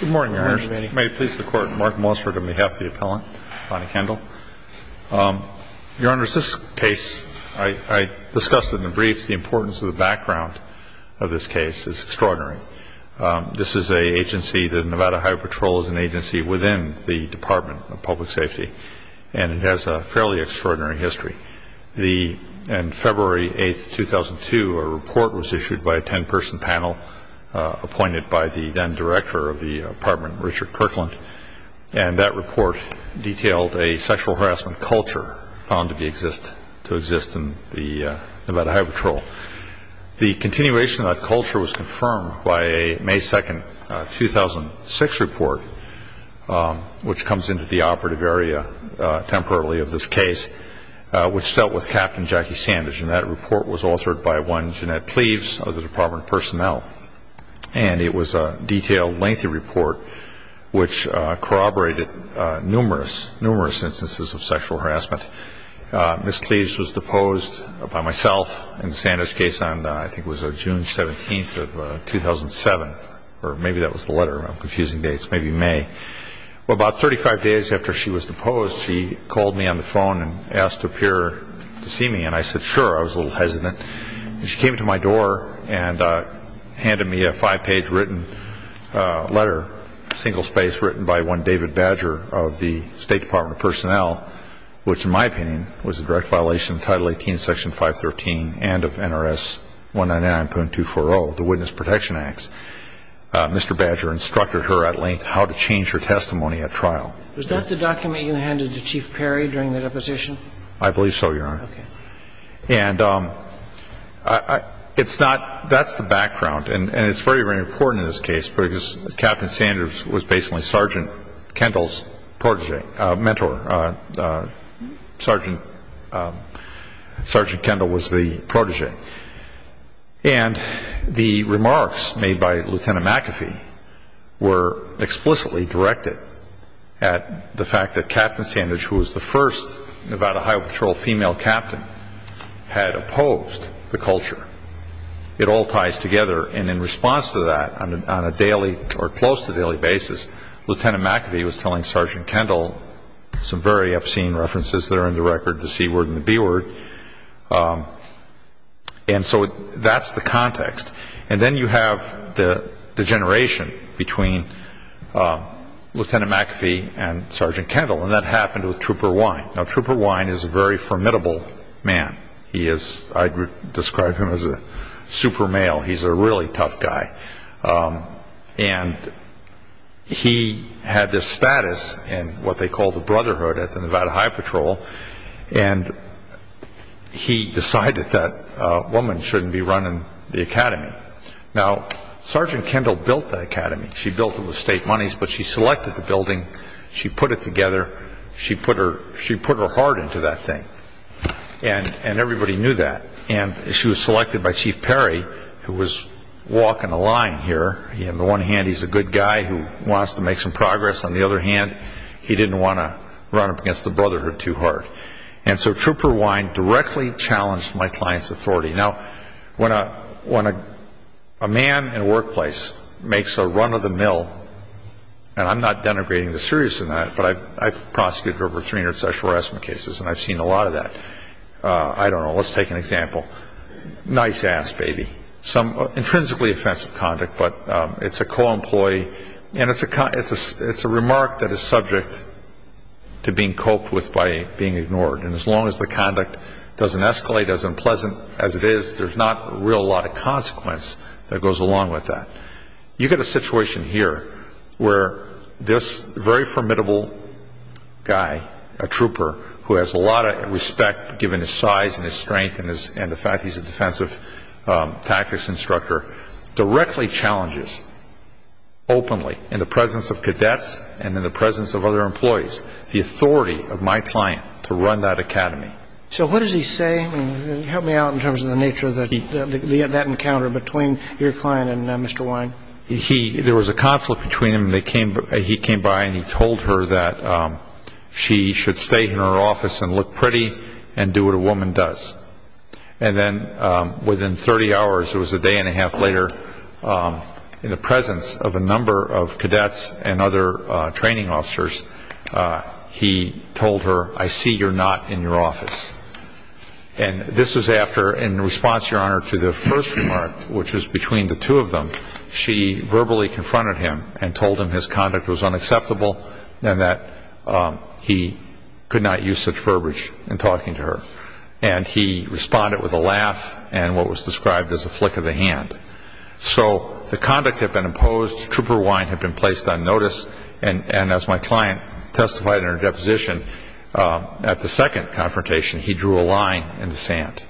Good morning, Your Honors. May it please the Court, I'm Mark Mossford on behalf of the appellant, Bonnie Kendall. Your Honors, this case, I discussed it in the briefs, the importance of the background of this case is extraordinary. This is an agency, the Nevada Highway Patrol, is an agency within the Department of Public Safety, and it has a fairly extraordinary history. On February 8, 2002, a report was issued by a ten-person panel appointed by the then Director of the Department, Richard Kirkland, and that report detailed a sexual harassment culture found to exist in the Nevada Highway Patrol. The continuation of that culture was confirmed by a May 2, 2006 report, which comes into the operative area temporarily of this case, which dealt with Captain Jackie Sandage, and that report was authored by one Jeanette Cleaves of the Department of Personnel. And it was a detailed, lengthy report which corroborated numerous, numerous instances of sexual harassment. Ms. Cleaves was deposed by myself in the Sandage case on, I think it was June 17, 2007, or maybe that was the letter. I'm confusing dates. Maybe May. Well, about 35 days after she was deposed, she called me on the phone and asked to appear to see me, and I said, sure. I was a little hesitant. And she came to my door and handed me a five-page written letter, single-spaced, written by one David Badger of the State Department of Personnel, which in my opinion was a direct violation of Title 18, Section 513 and of NRS 199.240, the Witness Protection Acts. Mr. Badger instructed her at length how to change her testimony at trial. Was that the document you handed to Chief Perry during the deposition? I believe so, Your Honor. Okay. And it's not – that's the background, and it's very, very important in this case because Captain Sandage was basically Sergeant Kendall's protégé – mentor. Sergeant Kendall was the protégé. And the remarks made by Lieutenant McAfee were explicitly directed at the fact that Captain Sandage, who was the first Nevada Highway Patrol female captain, had opposed the culture. It all ties together. And in response to that, on a daily or close to daily basis, Lieutenant McAfee was telling Sergeant Kendall some very obscene references that are in the record, the C word and the B word. And so that's the context. And then you have the degeneration between Lieutenant McAfee and Sergeant Kendall, and that happened with Trooper Wine. Now, Trooper Wine is a very formidable man. I describe him as a super male. He's a really tough guy. And he had this status in what they call the Brotherhood at the Nevada Highway Patrol, and he decided that a woman shouldn't be running the academy. Now, Sergeant Kendall built the academy. She built it with state monies, but she selected the building. She put it together. She put her heart into that thing, and everybody knew that. And she was selected by Chief Perry, who was walking the line here. On the one hand, he's a good guy who wants to make some progress. On the other hand, he didn't want to run up against the Brotherhood too hard. And so Trooper Wine directly challenged my client's authority. Now, when a man in a workplace makes a run of the mill, and I'm not denigrating the serious in that, but I've prosecuted over 300 sexual harassment cases, and I've seen a lot of that. I don't know. Let's take an example. Nice-ass baby. Some intrinsically offensive conduct, but it's a co-employee, and it's a remark that is subject to being coped with by being ignored. And as long as the conduct doesn't escalate as unpleasant as it is, there's not a real lot of consequence that goes along with that. You get a situation here where this very formidable guy, a trooper, who has a lot of respect given his size and his strength and the fact he's a defensive tactics instructor, directly challenges openly in the presence of cadets and in the presence of other employees the authority of my client to run that academy. So what does he say? Help me out in terms of the nature of that encounter between your client and Mr. Wine. There was a conflict between them. He came by and he told her that she should stay in her office and look pretty and do what a woman does. And then within 30 hours, it was a day and a half later, in the presence of a number of cadets and other training officers, he told her, I see you're not in your office. And this was after, in response, Your Honor, to the first remark, which was between the two of them, she verbally confronted him and told him his conduct was unacceptable and that he could not use such verbiage in talking to her. And he responded with a laugh and what was described as a flick of the hand. So the conduct had been imposed. Trooper Wine had been placed on notice. And as my client testified in her deposition, at the second confrontation, he drew a line in the sand.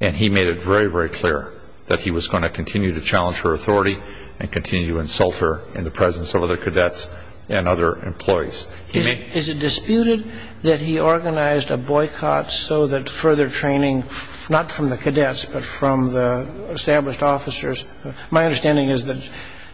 And he made it very, very clear that he was going to continue to challenge her authority and continue to insult her in the presence of other cadets and other employees. Is it disputed that he organized a boycott so that further training, not from the cadets but from the established officers, my understanding is that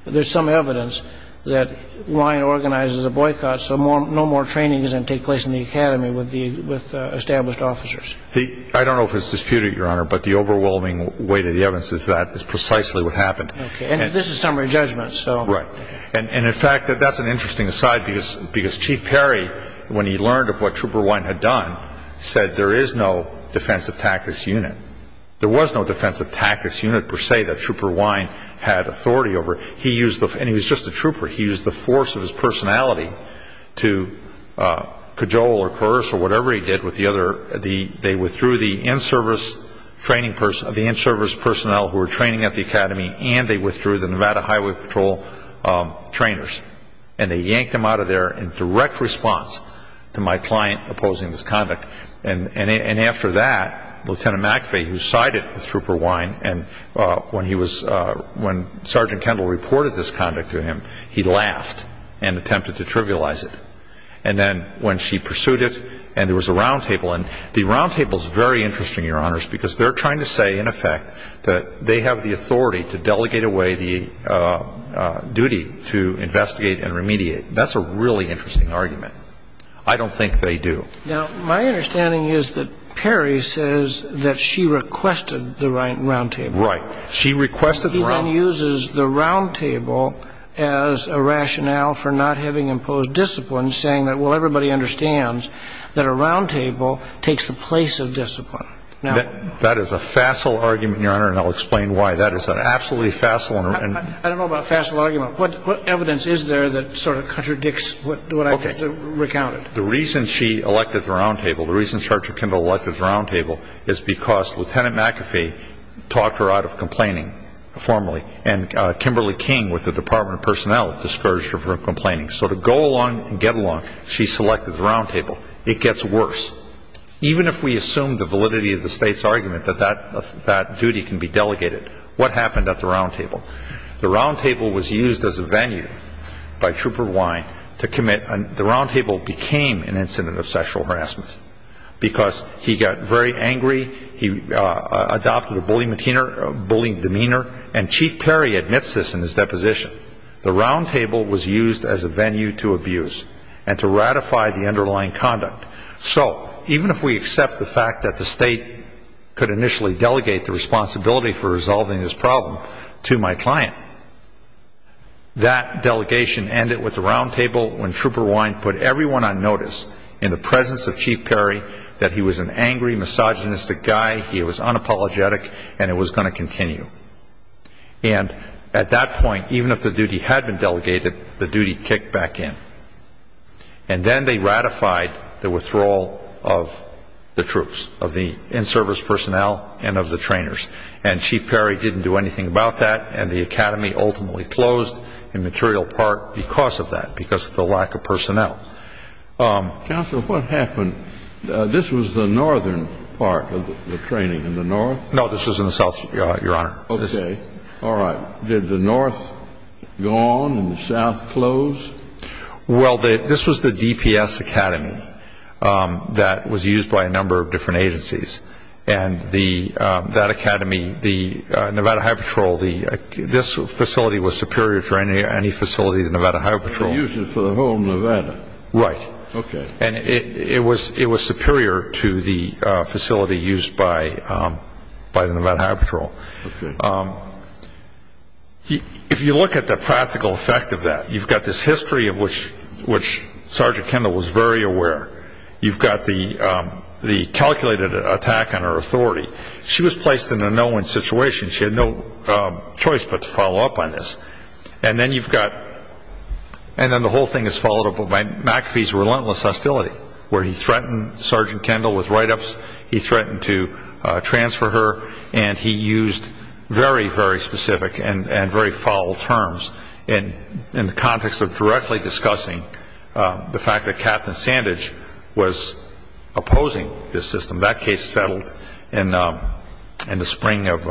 there's some evidence that Wine organizes a boycott so no more training doesn't take place in the academy with established officers? I don't know if it's disputed, Your Honor, but the overwhelming weight of the evidence is that is precisely what happened. And this is summary judgment. Right. And, in fact, that's an interesting aside because Chief Perry, when he learned of what Trooper Wine had done, said there is no defensive tactics unit. There was no defensive tactics unit, per se, that Trooper Wine had authority over. And he was just a trooper. He used the force of his personality to cajole or coerce or whatever he did with the other. They withdrew the in-service personnel who were training at the academy and they withdrew the Nevada Highway Patrol trainers. And they yanked them out of there in direct response to my client opposing this conduct. And after that, Lieutenant McAfee, who sided with Trooper Wine, and when he was ‑‑ when Sergeant Kendall reported this conduct to him, he laughed and attempted to trivialize it. And then when she pursued it and there was a roundtable, and the roundtable is very interesting, Your Honors, because they're trying to say, in effect, that they have the authority to delegate away the duty to investigate and remediate. That's a really interesting argument. I don't think they do. Now, my understanding is that Perry says that she requested the roundtable. Right. She requested the roundtable. He then uses the roundtable as a rationale for not having imposed discipline, saying that, well, everybody understands that a roundtable takes the place of discipline. That is a facile argument, Your Honor, and I'll explain why. That is an absolutely facile argument. I don't know about a facile argument. What evidence is there that sort of contradicts what I just recounted? The reason she elected the roundtable, the reason Sergeant Kendall elected the roundtable, is because Lieutenant McAfee talked her out of complaining formally, and Kimberly King, with the Department of Personnel, discouraged her from complaining. So to go along and get along, she selected the roundtable. It gets worse. Even if we assume the validity of the State's argument that that duty can be delegated, what happened at the roundtable? The roundtable was used as a venue by Trooper Wine to commit. The roundtable became an incident of sexual harassment because he got very angry, he adopted a bullying demeanor, and Chief Perry admits this in his deposition. The roundtable was used as a venue to abuse and to ratify the underlying conduct. So even if we accept the fact that the State could initially delegate the responsibility for resolving this problem to my client, that delegation ended with the roundtable when Trooper Wine put everyone on notice in the presence of Chief Perry that he was an angry, misogynistic guy, he was unapologetic, and it was going to continue. And at that point, even if the duty had been delegated, the duty kicked back in. And then they ratified the withdrawal of the troops, of the in-service personnel and of the trainers. And Chief Perry didn't do anything about that, and the academy ultimately closed in material part because of that, because of the lack of personnel. Counsel, what happened? This was the northern part of the training, in the north? No, this was in the south, Your Honor. Okay. All right. Did the north go on and the south close? Well, this was the DPS academy that was used by a number of different agencies. And that academy, the Nevada Highway Patrol, this facility was superior to any facility of the Nevada Highway Patrol. They used it for the whole of Nevada? Right. Okay. And it was superior to the facility used by the Nevada Highway Patrol. Okay. If you look at the practical effect of that, you've got this history of which Sergeant Kendall was very aware. You've got the calculated attack on her authority. She was placed in a no-win situation. She had no choice but to follow up on this. And then you've got, and then the whole thing is followed up by McAfee's relentless hostility, where he threatened Sergeant Kendall with write-ups, he threatened to transfer her, and he used very, very specific and very foul terms in the context of directly discussing the fact that Captain Sandage was opposing this system. That case settled in the spring of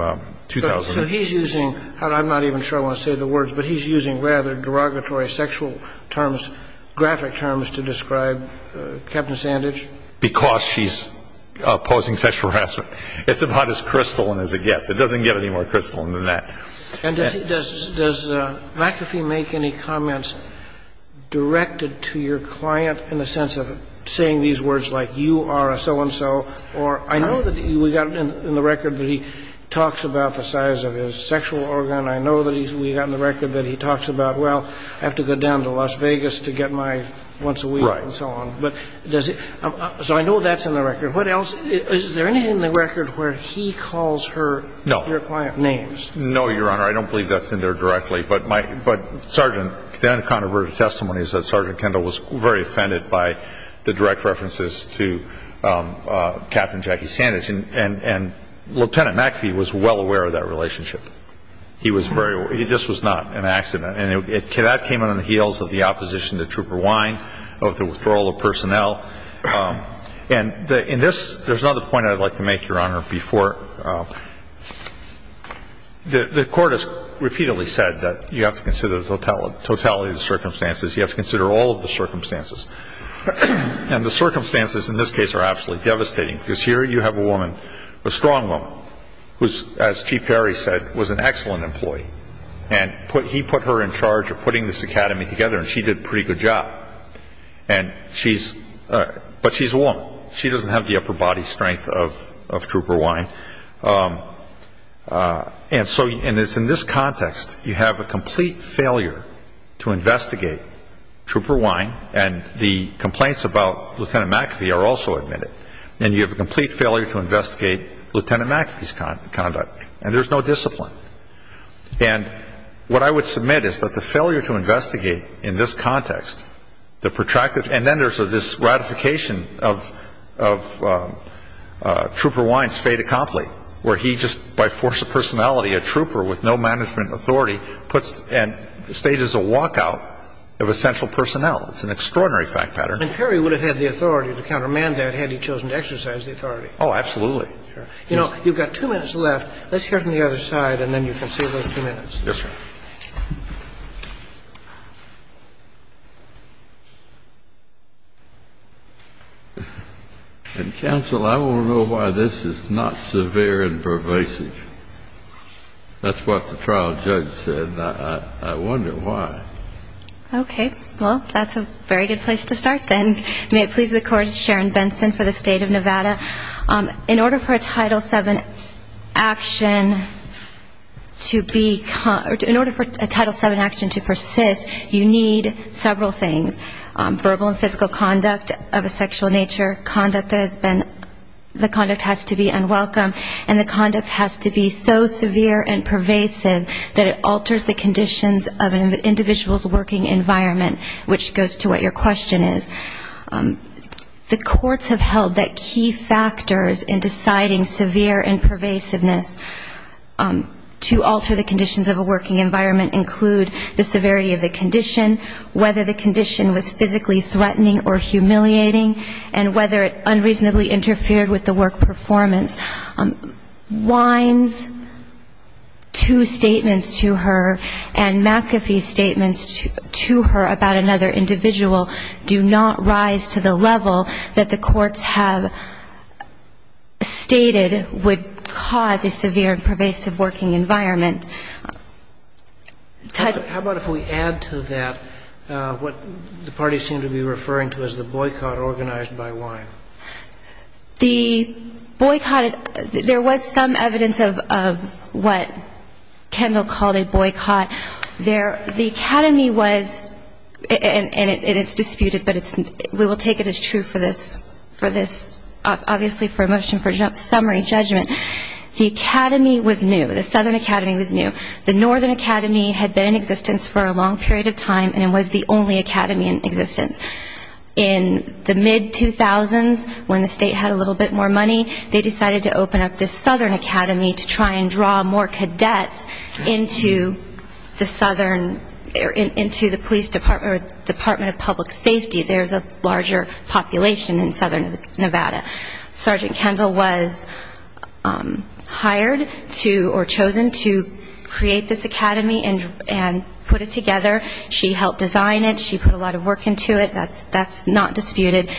2000. So he's using, and I'm not even sure I want to say the words, but he's using rather derogatory sexual terms, graphic terms, to describe Captain Sandage? Because she's opposing sexual harassment. It's about as crystalline as it gets. It doesn't get any more crystalline than that. And does McAfee make any comments directed to your client in the sense of saying these words like, you are a so-and-so, or I know that we got in the record that he talks about the size of his sexual organ. I know that we got in the record that he talks about, well, I have to go down to Las Vegas to get my once a week and so on. Right. So I know that's in the record. What else? Is there anything in the record where he calls her your client's name? No. No, Your Honor. I don't believe that's in there directly. But, Sergeant, the only controversial testimony is that Sergeant Kendall was very offended by the direct references to Captain Jackie Sandage. And Lieutenant McAfee was well aware of that relationship. He was very aware. This was not an accident. And that came out on the heels of the opposition to Trooper Wine, of the withdrawal of personnel. And in this, there's another point I'd like to make, Your Honor, before the Court has repeatedly said that you have to consider the totality of the circumstances. You have to consider all of the circumstances. And the circumstances in this case are absolutely devastating because here you have a woman, a strong woman, who, as Chief Perry said, was an excellent employee. And he put her in charge of putting this academy together, and she did a pretty good job. And she's ‑‑ but she's a woman. She doesn't have the upper body strength of Trooper Wine. And so in this context, you have a complete failure to investigate Trooper Wine. And the complaints about Lieutenant McAfee are also admitted. And you have a complete failure to investigate Lieutenant McAfee's conduct. And there's no discipline. And what I would submit is that the failure to investigate in this context, the protracted ‑‑ and then there's this ratification of Trooper Wine's fait accompli, where he just by force of personality, a trooper with no management authority, puts and stages a walkout of essential personnel. It's an extraordinary fact pattern. And Perry would have had the authority to countermand that had he chosen to exercise the authority. Oh, absolutely. You know, you've got two minutes left. Let's hear from the other side, and then you can save those two minutes. Yes, sir. Counsel, I want to know why this is not severe and pervasive. That's what the trial judge said. I wonder why. Okay. Well, that's a very good place to start then. May it please the Court, Sharon Benson for the State of Nevada. In order for a Title VII action to be ‑‑ in order for a Title VII action to persist, you need several things. Verbal and physical conduct of a sexual nature, conduct that has been ‑‑ the conduct has to be unwelcome, and the conduct has to be so severe and pervasive that it alters the conditions of an individual's working environment, which goes to what your question is. The courts have held that key factors in deciding severe and pervasiveness to alter the conditions of a working environment include the severity of the condition, whether the condition was physically threatening or humiliating, and whether it unreasonably interfered with the work performance. Wines, two statements to her, and McAfee's statements to her about another individual do not rise to the level that the courts have stated would cause a severe and pervasive working environment. How about if we add to that what the parties seem to be referring to as the boycott organized by Wine? The boycott, there was some evidence of what Kendall called a boycott. The academy was, and it's disputed, but we will take it as true for this, obviously for a motion for summary judgment, the academy was new, the Southern Academy was new. The Northern Academy had been in existence for a long period of time, and it was the only academy in existence. In the mid-2000s, when the state had a little bit more money, they decided to open up this Southern Academy to try and draw more cadets into the police department or Department of Public Safety. There's a larger population in Southern Nevada. Sergeant Kendall was hired to or chosen to create this academy and put it together. She helped design it. She put a lot of work into it. That's not disputed.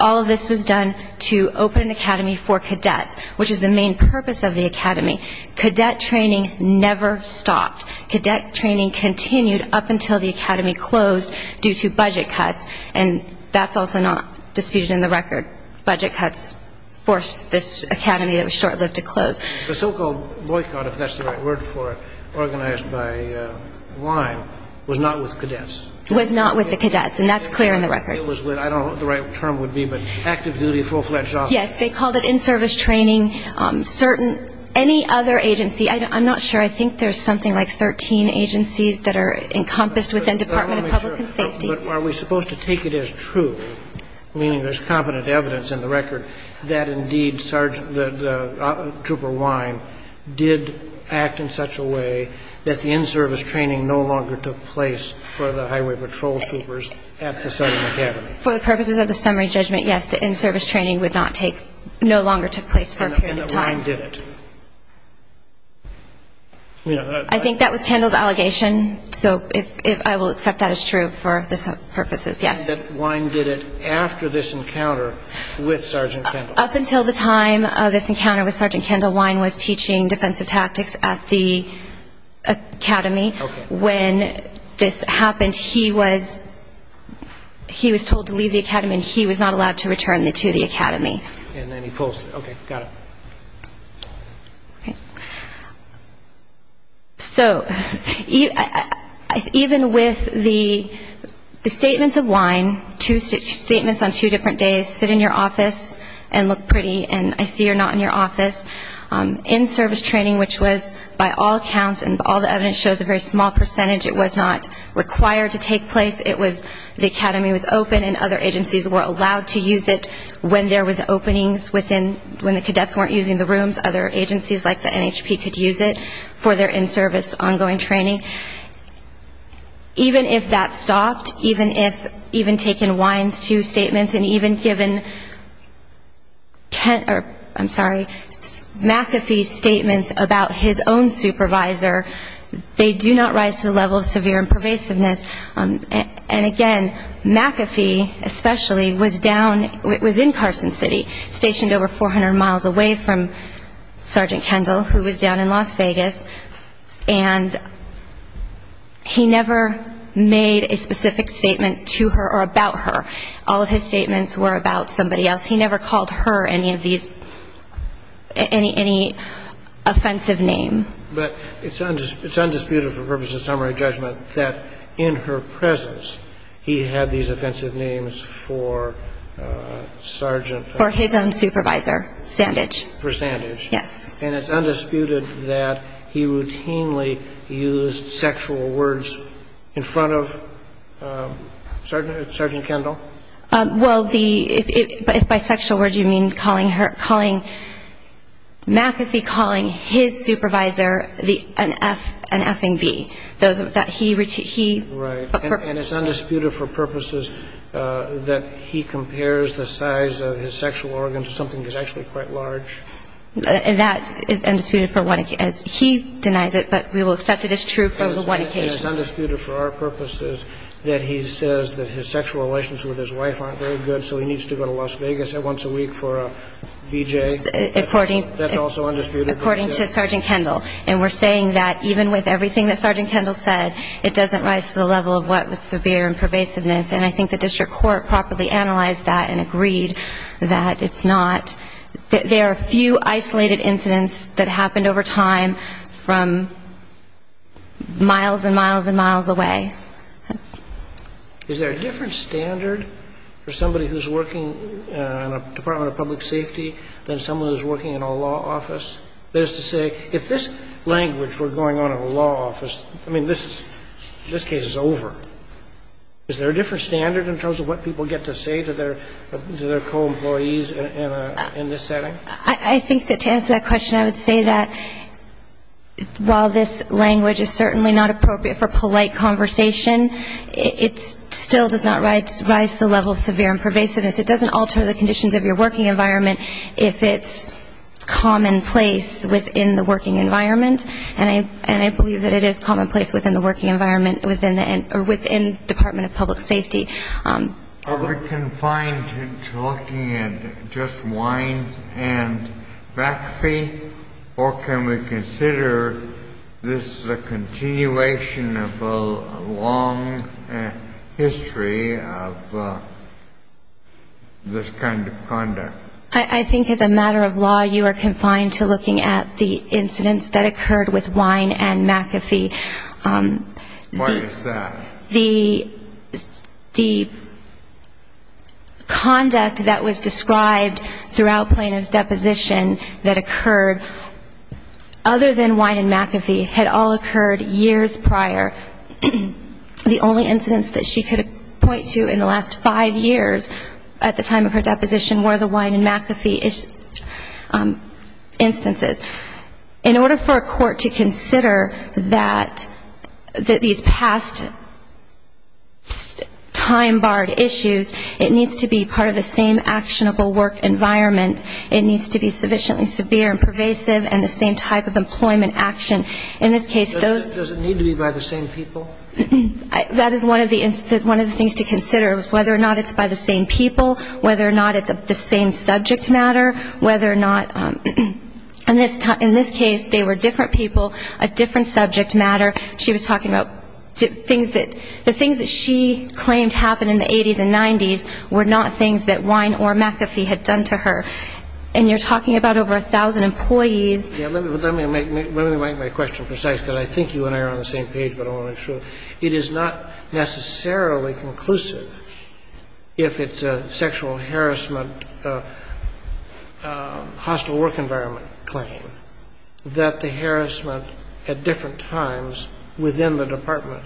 All of this was done to open an academy for cadets, which is the main purpose of the academy. Cadet training never stopped. Cadet training continued up until the academy closed due to budget cuts, and that's also not disputed in the record. Budget cuts forced this academy that was short-lived to close. The so-called boycott, if that's the right word for it, organized by WINE, was not with cadets. It was not with the cadets, and that's clear in the record. It was with, I don't know what the right term would be, but active-duty full-fledged officers. Yes, they called it in-service training. Any other agency, I'm not sure. I think there's something like 13 agencies that are encompassed within Department of Public and Safety. But are we supposed to take it as true, meaning there's competent evidence in the record, that indeed the Trooper WINE did act in such a way that the in-service training no longer took place for the Highway Patrol Troopers at the Southern Academy? For the purposes of the summary judgment, yes, the in-service training would not take no longer took place for a period of time. And that WINE did it. I think that was Kendall's allegation, so I will accept that as true for the purposes, yes. WINE did it after this encounter with Sergeant Kendall. Up until the time of this encounter with Sergeant Kendall, WINE was teaching defensive tactics at the Academy. When this happened, he was told to leave the Academy, and he was not allowed to return to the Academy. And then he posted it. Okay, got it. So even with the statements of WINE, two statements on two different days, sit in your office and look pretty and I see you're not in your office, in-service training, which was by all accounts and all the evidence shows a very small percentage, it was not required to take place. It was the Academy was open and other agencies were allowed to use it when there was openings within, when the cadets weren't using the rooms, other agencies like the NHP could use it for their in-service ongoing training. Even if that stopped, even if taking WINE's two statements and even given, I'm sorry, McAfee's statements about his own supervisor, they do not rise to the level of severe impervasiveness. And again, McAfee especially was down, was in Carson City, stationed over 400 miles away from Sergeant Kendall who was down in Las Vegas, and he never made a specific statement to her or about her. All of his statements were about somebody else. He never called her any of these, any offensive name. But it's undisputed for purposes of summary judgment that in her presence, he had these offensive names for Sergeant. For his own supervisor, Sandage. For Sandage. Yes. And it's undisputed that he routinely used sexual words in front of Sergeant Kendall? Well, the, if by sexual words you mean calling her, calling, McAfee calling his supervisor an F-ing B. That he, he. Right. And it's undisputed for purposes that he compares the size of his sexual organ to something that's actually quite large. And that is undisputed for one occasion. He denies it, but we will accept it as true for one occasion. And it's undisputed for our purposes that he says that his sexual relations with his wife aren't very good, so he needs to go to Las Vegas once a week for a BJ. According. That's also undisputed. According to Sergeant Kendall. And we're saying that even with everything that Sergeant Kendall said, it doesn't rise to the level of what was severe and pervasiveness. And I think the district court properly analyzed that and agreed that it's not, that there are few isolated incidents that happened over time from miles and miles and miles away. Is there a different standard for somebody who's working in a Department of Public Safety than someone who's working in a law office? That is to say, if this language were going on in a law office, I mean, this case is over. Is there a different standard in terms of what people get to say to their co-employees in this setting? I think that to answer that question, I would say that while this language is certainly not appropriate for polite conversation, it still does not rise to the level of severe and pervasiveness. It doesn't alter the conditions of your working environment if it's commonplace within the working environment. And I believe that it is commonplace within the working environment within the Department of Public Safety. Are we confined to looking at just wine and back feet, or can we consider this a continuation of a long history of this kind of conduct? I think as a matter of law, you are confined to looking at the incidents that occurred with wine and McAfee. Why is that? The conduct that was described throughout Plano's deposition that occurred other than wine and McAfee had all occurred years prior. The only incidents that she could point to in the last five years at the time of her deposition were the wine and McAfee instances. In order for a court to consider that these past time-barred issues, it needs to be part of the same actionable work environment. It needs to be sufficiently severe and pervasive and the same type of employment action. In this case, those ñ Does it need to be by the same people? That is one of the things to consider, whether or not it's by the same people, whether or not it's the same subject matter, whether or not ñ in this case, they were different people, a different subject matter. She was talking about things that ñ the things that she claimed happened in the 80s and 90s were not things that wine or McAfee had done to her. And you're talking about over 1,000 employees. Let me make my question precise, because I think you and I are on the same page, but I want to make sure. It is not necessarily conclusive if it's a sexual harassment hostile work environment claim that the harassment at different times within the department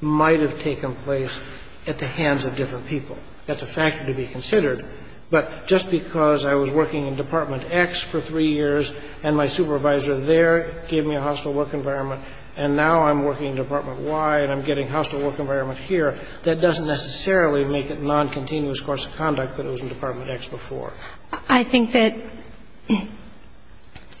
might have taken place at the hands of different people. That's a factor to be considered. But just because I was working in Department X for three years and my supervisor there gave me a hostile work environment and now I'm working in Department Y and I'm getting a hostile work environment here, that doesn't necessarily make it non-continuous course of conduct that it was in Department X before. I think that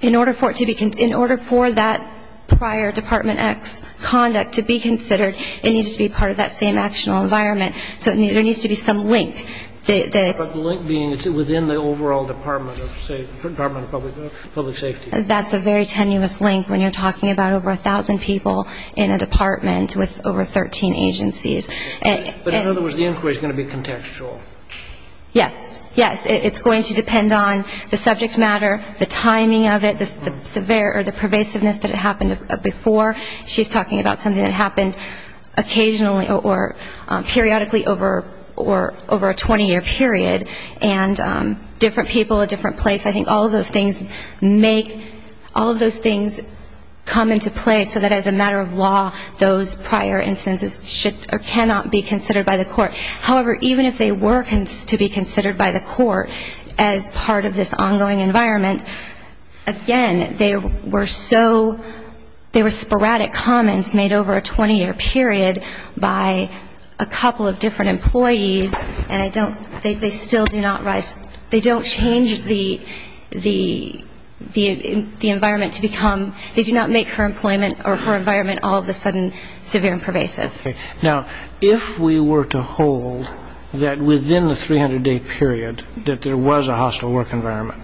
in order for it to be ñ in order for that prior Department X conduct to be considered, it needs to be part of that same actual environment. So there needs to be some link. But the link being within the overall Department of ñ Department of Public Safety. That's a very tenuous link when you're talking about over 1,000 people in a department with over 13 agencies. But in other words, the inquiry is going to be contextual. Yes. Yes, it's going to depend on the subject matter, the timing of it, the pervasiveness that it happened before. She's talking about something that happened occasionally or periodically over a 20-year period, and different people, a different place. I think all of those things make ñ all of those things come into play so that as a matter of law, those prior instances should or cannot be considered by the court. However, even if they were to be considered by the court as part of this ongoing environment, again, they were so ñ they were sporadic comments made over a 20-year period by a couple of different employees and I don't ñ they still do not rise ñ they don't change the environment to become ñ they do not make her employment or her environment all of a sudden severe and pervasive. Okay. Now, if we were to hold that within the 300-day period that there was a hostile work environment,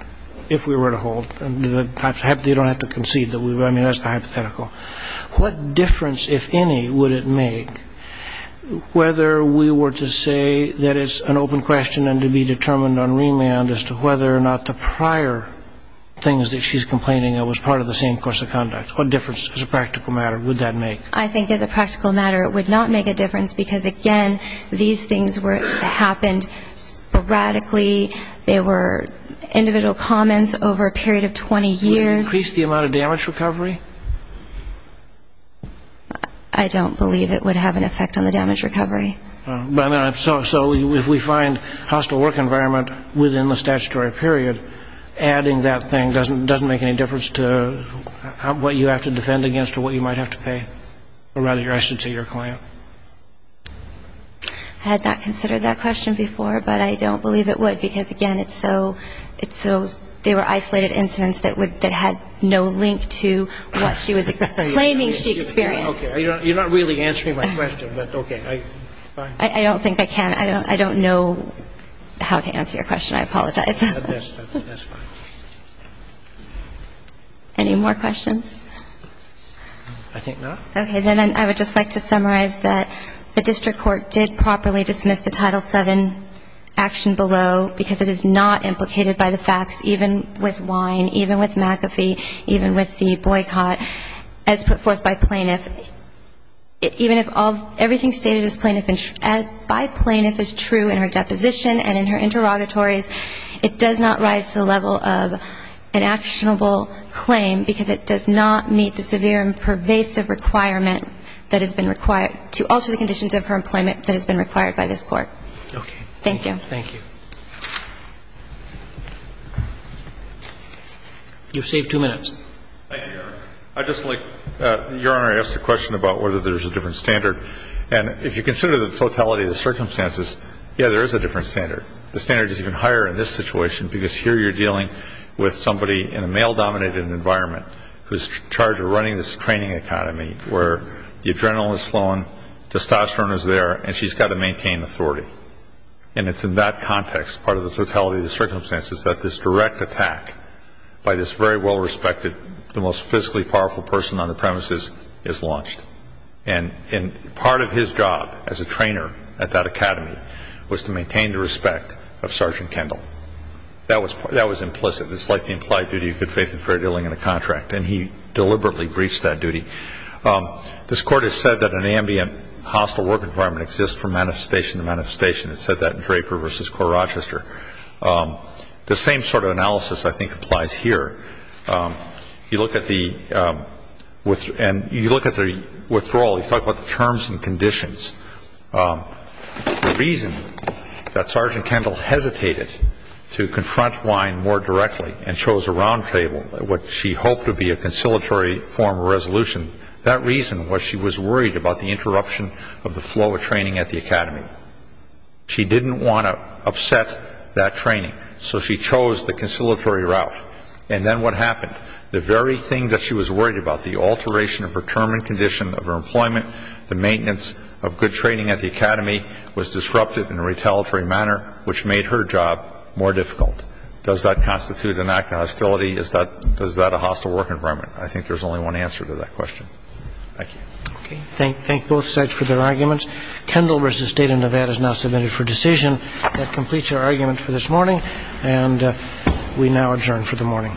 if we were to hold ñ you don't have to concede that we ñ I mean, that's the hypothetical. What difference, if any, would it make whether we were to say that it's an open question and to be determined on remand as to whether or not the prior things that she's complaining of was part of the same course of conduct? What difference, as a practical matter, would that make? I think as a practical matter it would not make a difference because, again, these things were ñ that happened sporadically. They were individual comments over a period of 20 years. Would that increase the amount of damage recovery? I don't believe it would have an effect on the damage recovery. So if we find hostile work environment within the statutory period, adding that thing doesn't make any difference to what you have to defend against or what you might have to pay, or rather your asset to your client? I had not considered that question before, but I don't believe it would because, again, it's so ñ that she was complaining about certain incidents that would ñ that had no link to what she was ñ claiming she experienced. Okay. You're not really answering my question, but okay. Fine. I don't think I can. I don't know how to answer your question. I apologize. That's fine. Any more questions? I think not. Okay. Then I would just like to summarize that the district court did properly dismiss the Title VII action below because it is not implicated by the facts, even with Wine, even with McAfee, even with the boycott, as put forth by plaintiff. Even if everything stated by plaintiff is true in her deposition and in her interrogatories, it does not rise to the level of an actionable claim because it does not meet the severe and pervasive requirement that has been required ñ to alter the conditions of her employment that has been required by this Court. Okay. Thank you. Thank you. You've saved two minutes. Thank you, Your Honor. I'd just like ñ Your Honor asked a question about whether there's a different standard. And if you consider the totality of the circumstances, yeah, there is a different standard. The standard is even higher in this situation because here you're dealing with somebody in a male-dominated environment who's in charge of running this training academy where the adrenaline is flowing, testosterone is there, and she's got to maintain authority. And it's in that context, part of the totality of the circumstances, that this direct attack by this very well-respected, the most physically powerful person on the premises is launched. And part of his job as a trainer at that academy was to maintain the respect of Sergeant Kendall. That was implicit. It's like the implied duty of good faith and fair dealing in a contract. And he deliberately breached that duty. This Court has said that an ambient, hostile work environment exists from manifestation to manifestation. It said that in Draper v. Corps Rochester. The same sort of analysis, I think, applies here. You look at the ñ and you look at the withdrawal. You talk about the terms and conditions. The reason that Sergeant Kendall hesitated to confront Wein more directly and chose a round table, what she hoped would be a conciliatory form of resolution, that reason was she was worried about the interruption of the flow of training at the academy. She didn't want to upset that training. So she chose the conciliatory route. And then what happened? The very thing that she was worried about, the alteration of her term and condition of her employment, the maintenance of good training at the academy was disrupted in a retaliatory manner, which made her job more difficult. Does that constitute an act of hostility? Is that ñ is that a hostile work environment? I think there's only one answer to that question. Thank you. Okay. Thank both sides for their arguments. Kendall v. State of Nevada is now submitted for decision. That completes our argument for this morning. And we now adjourn for the morning. All rise.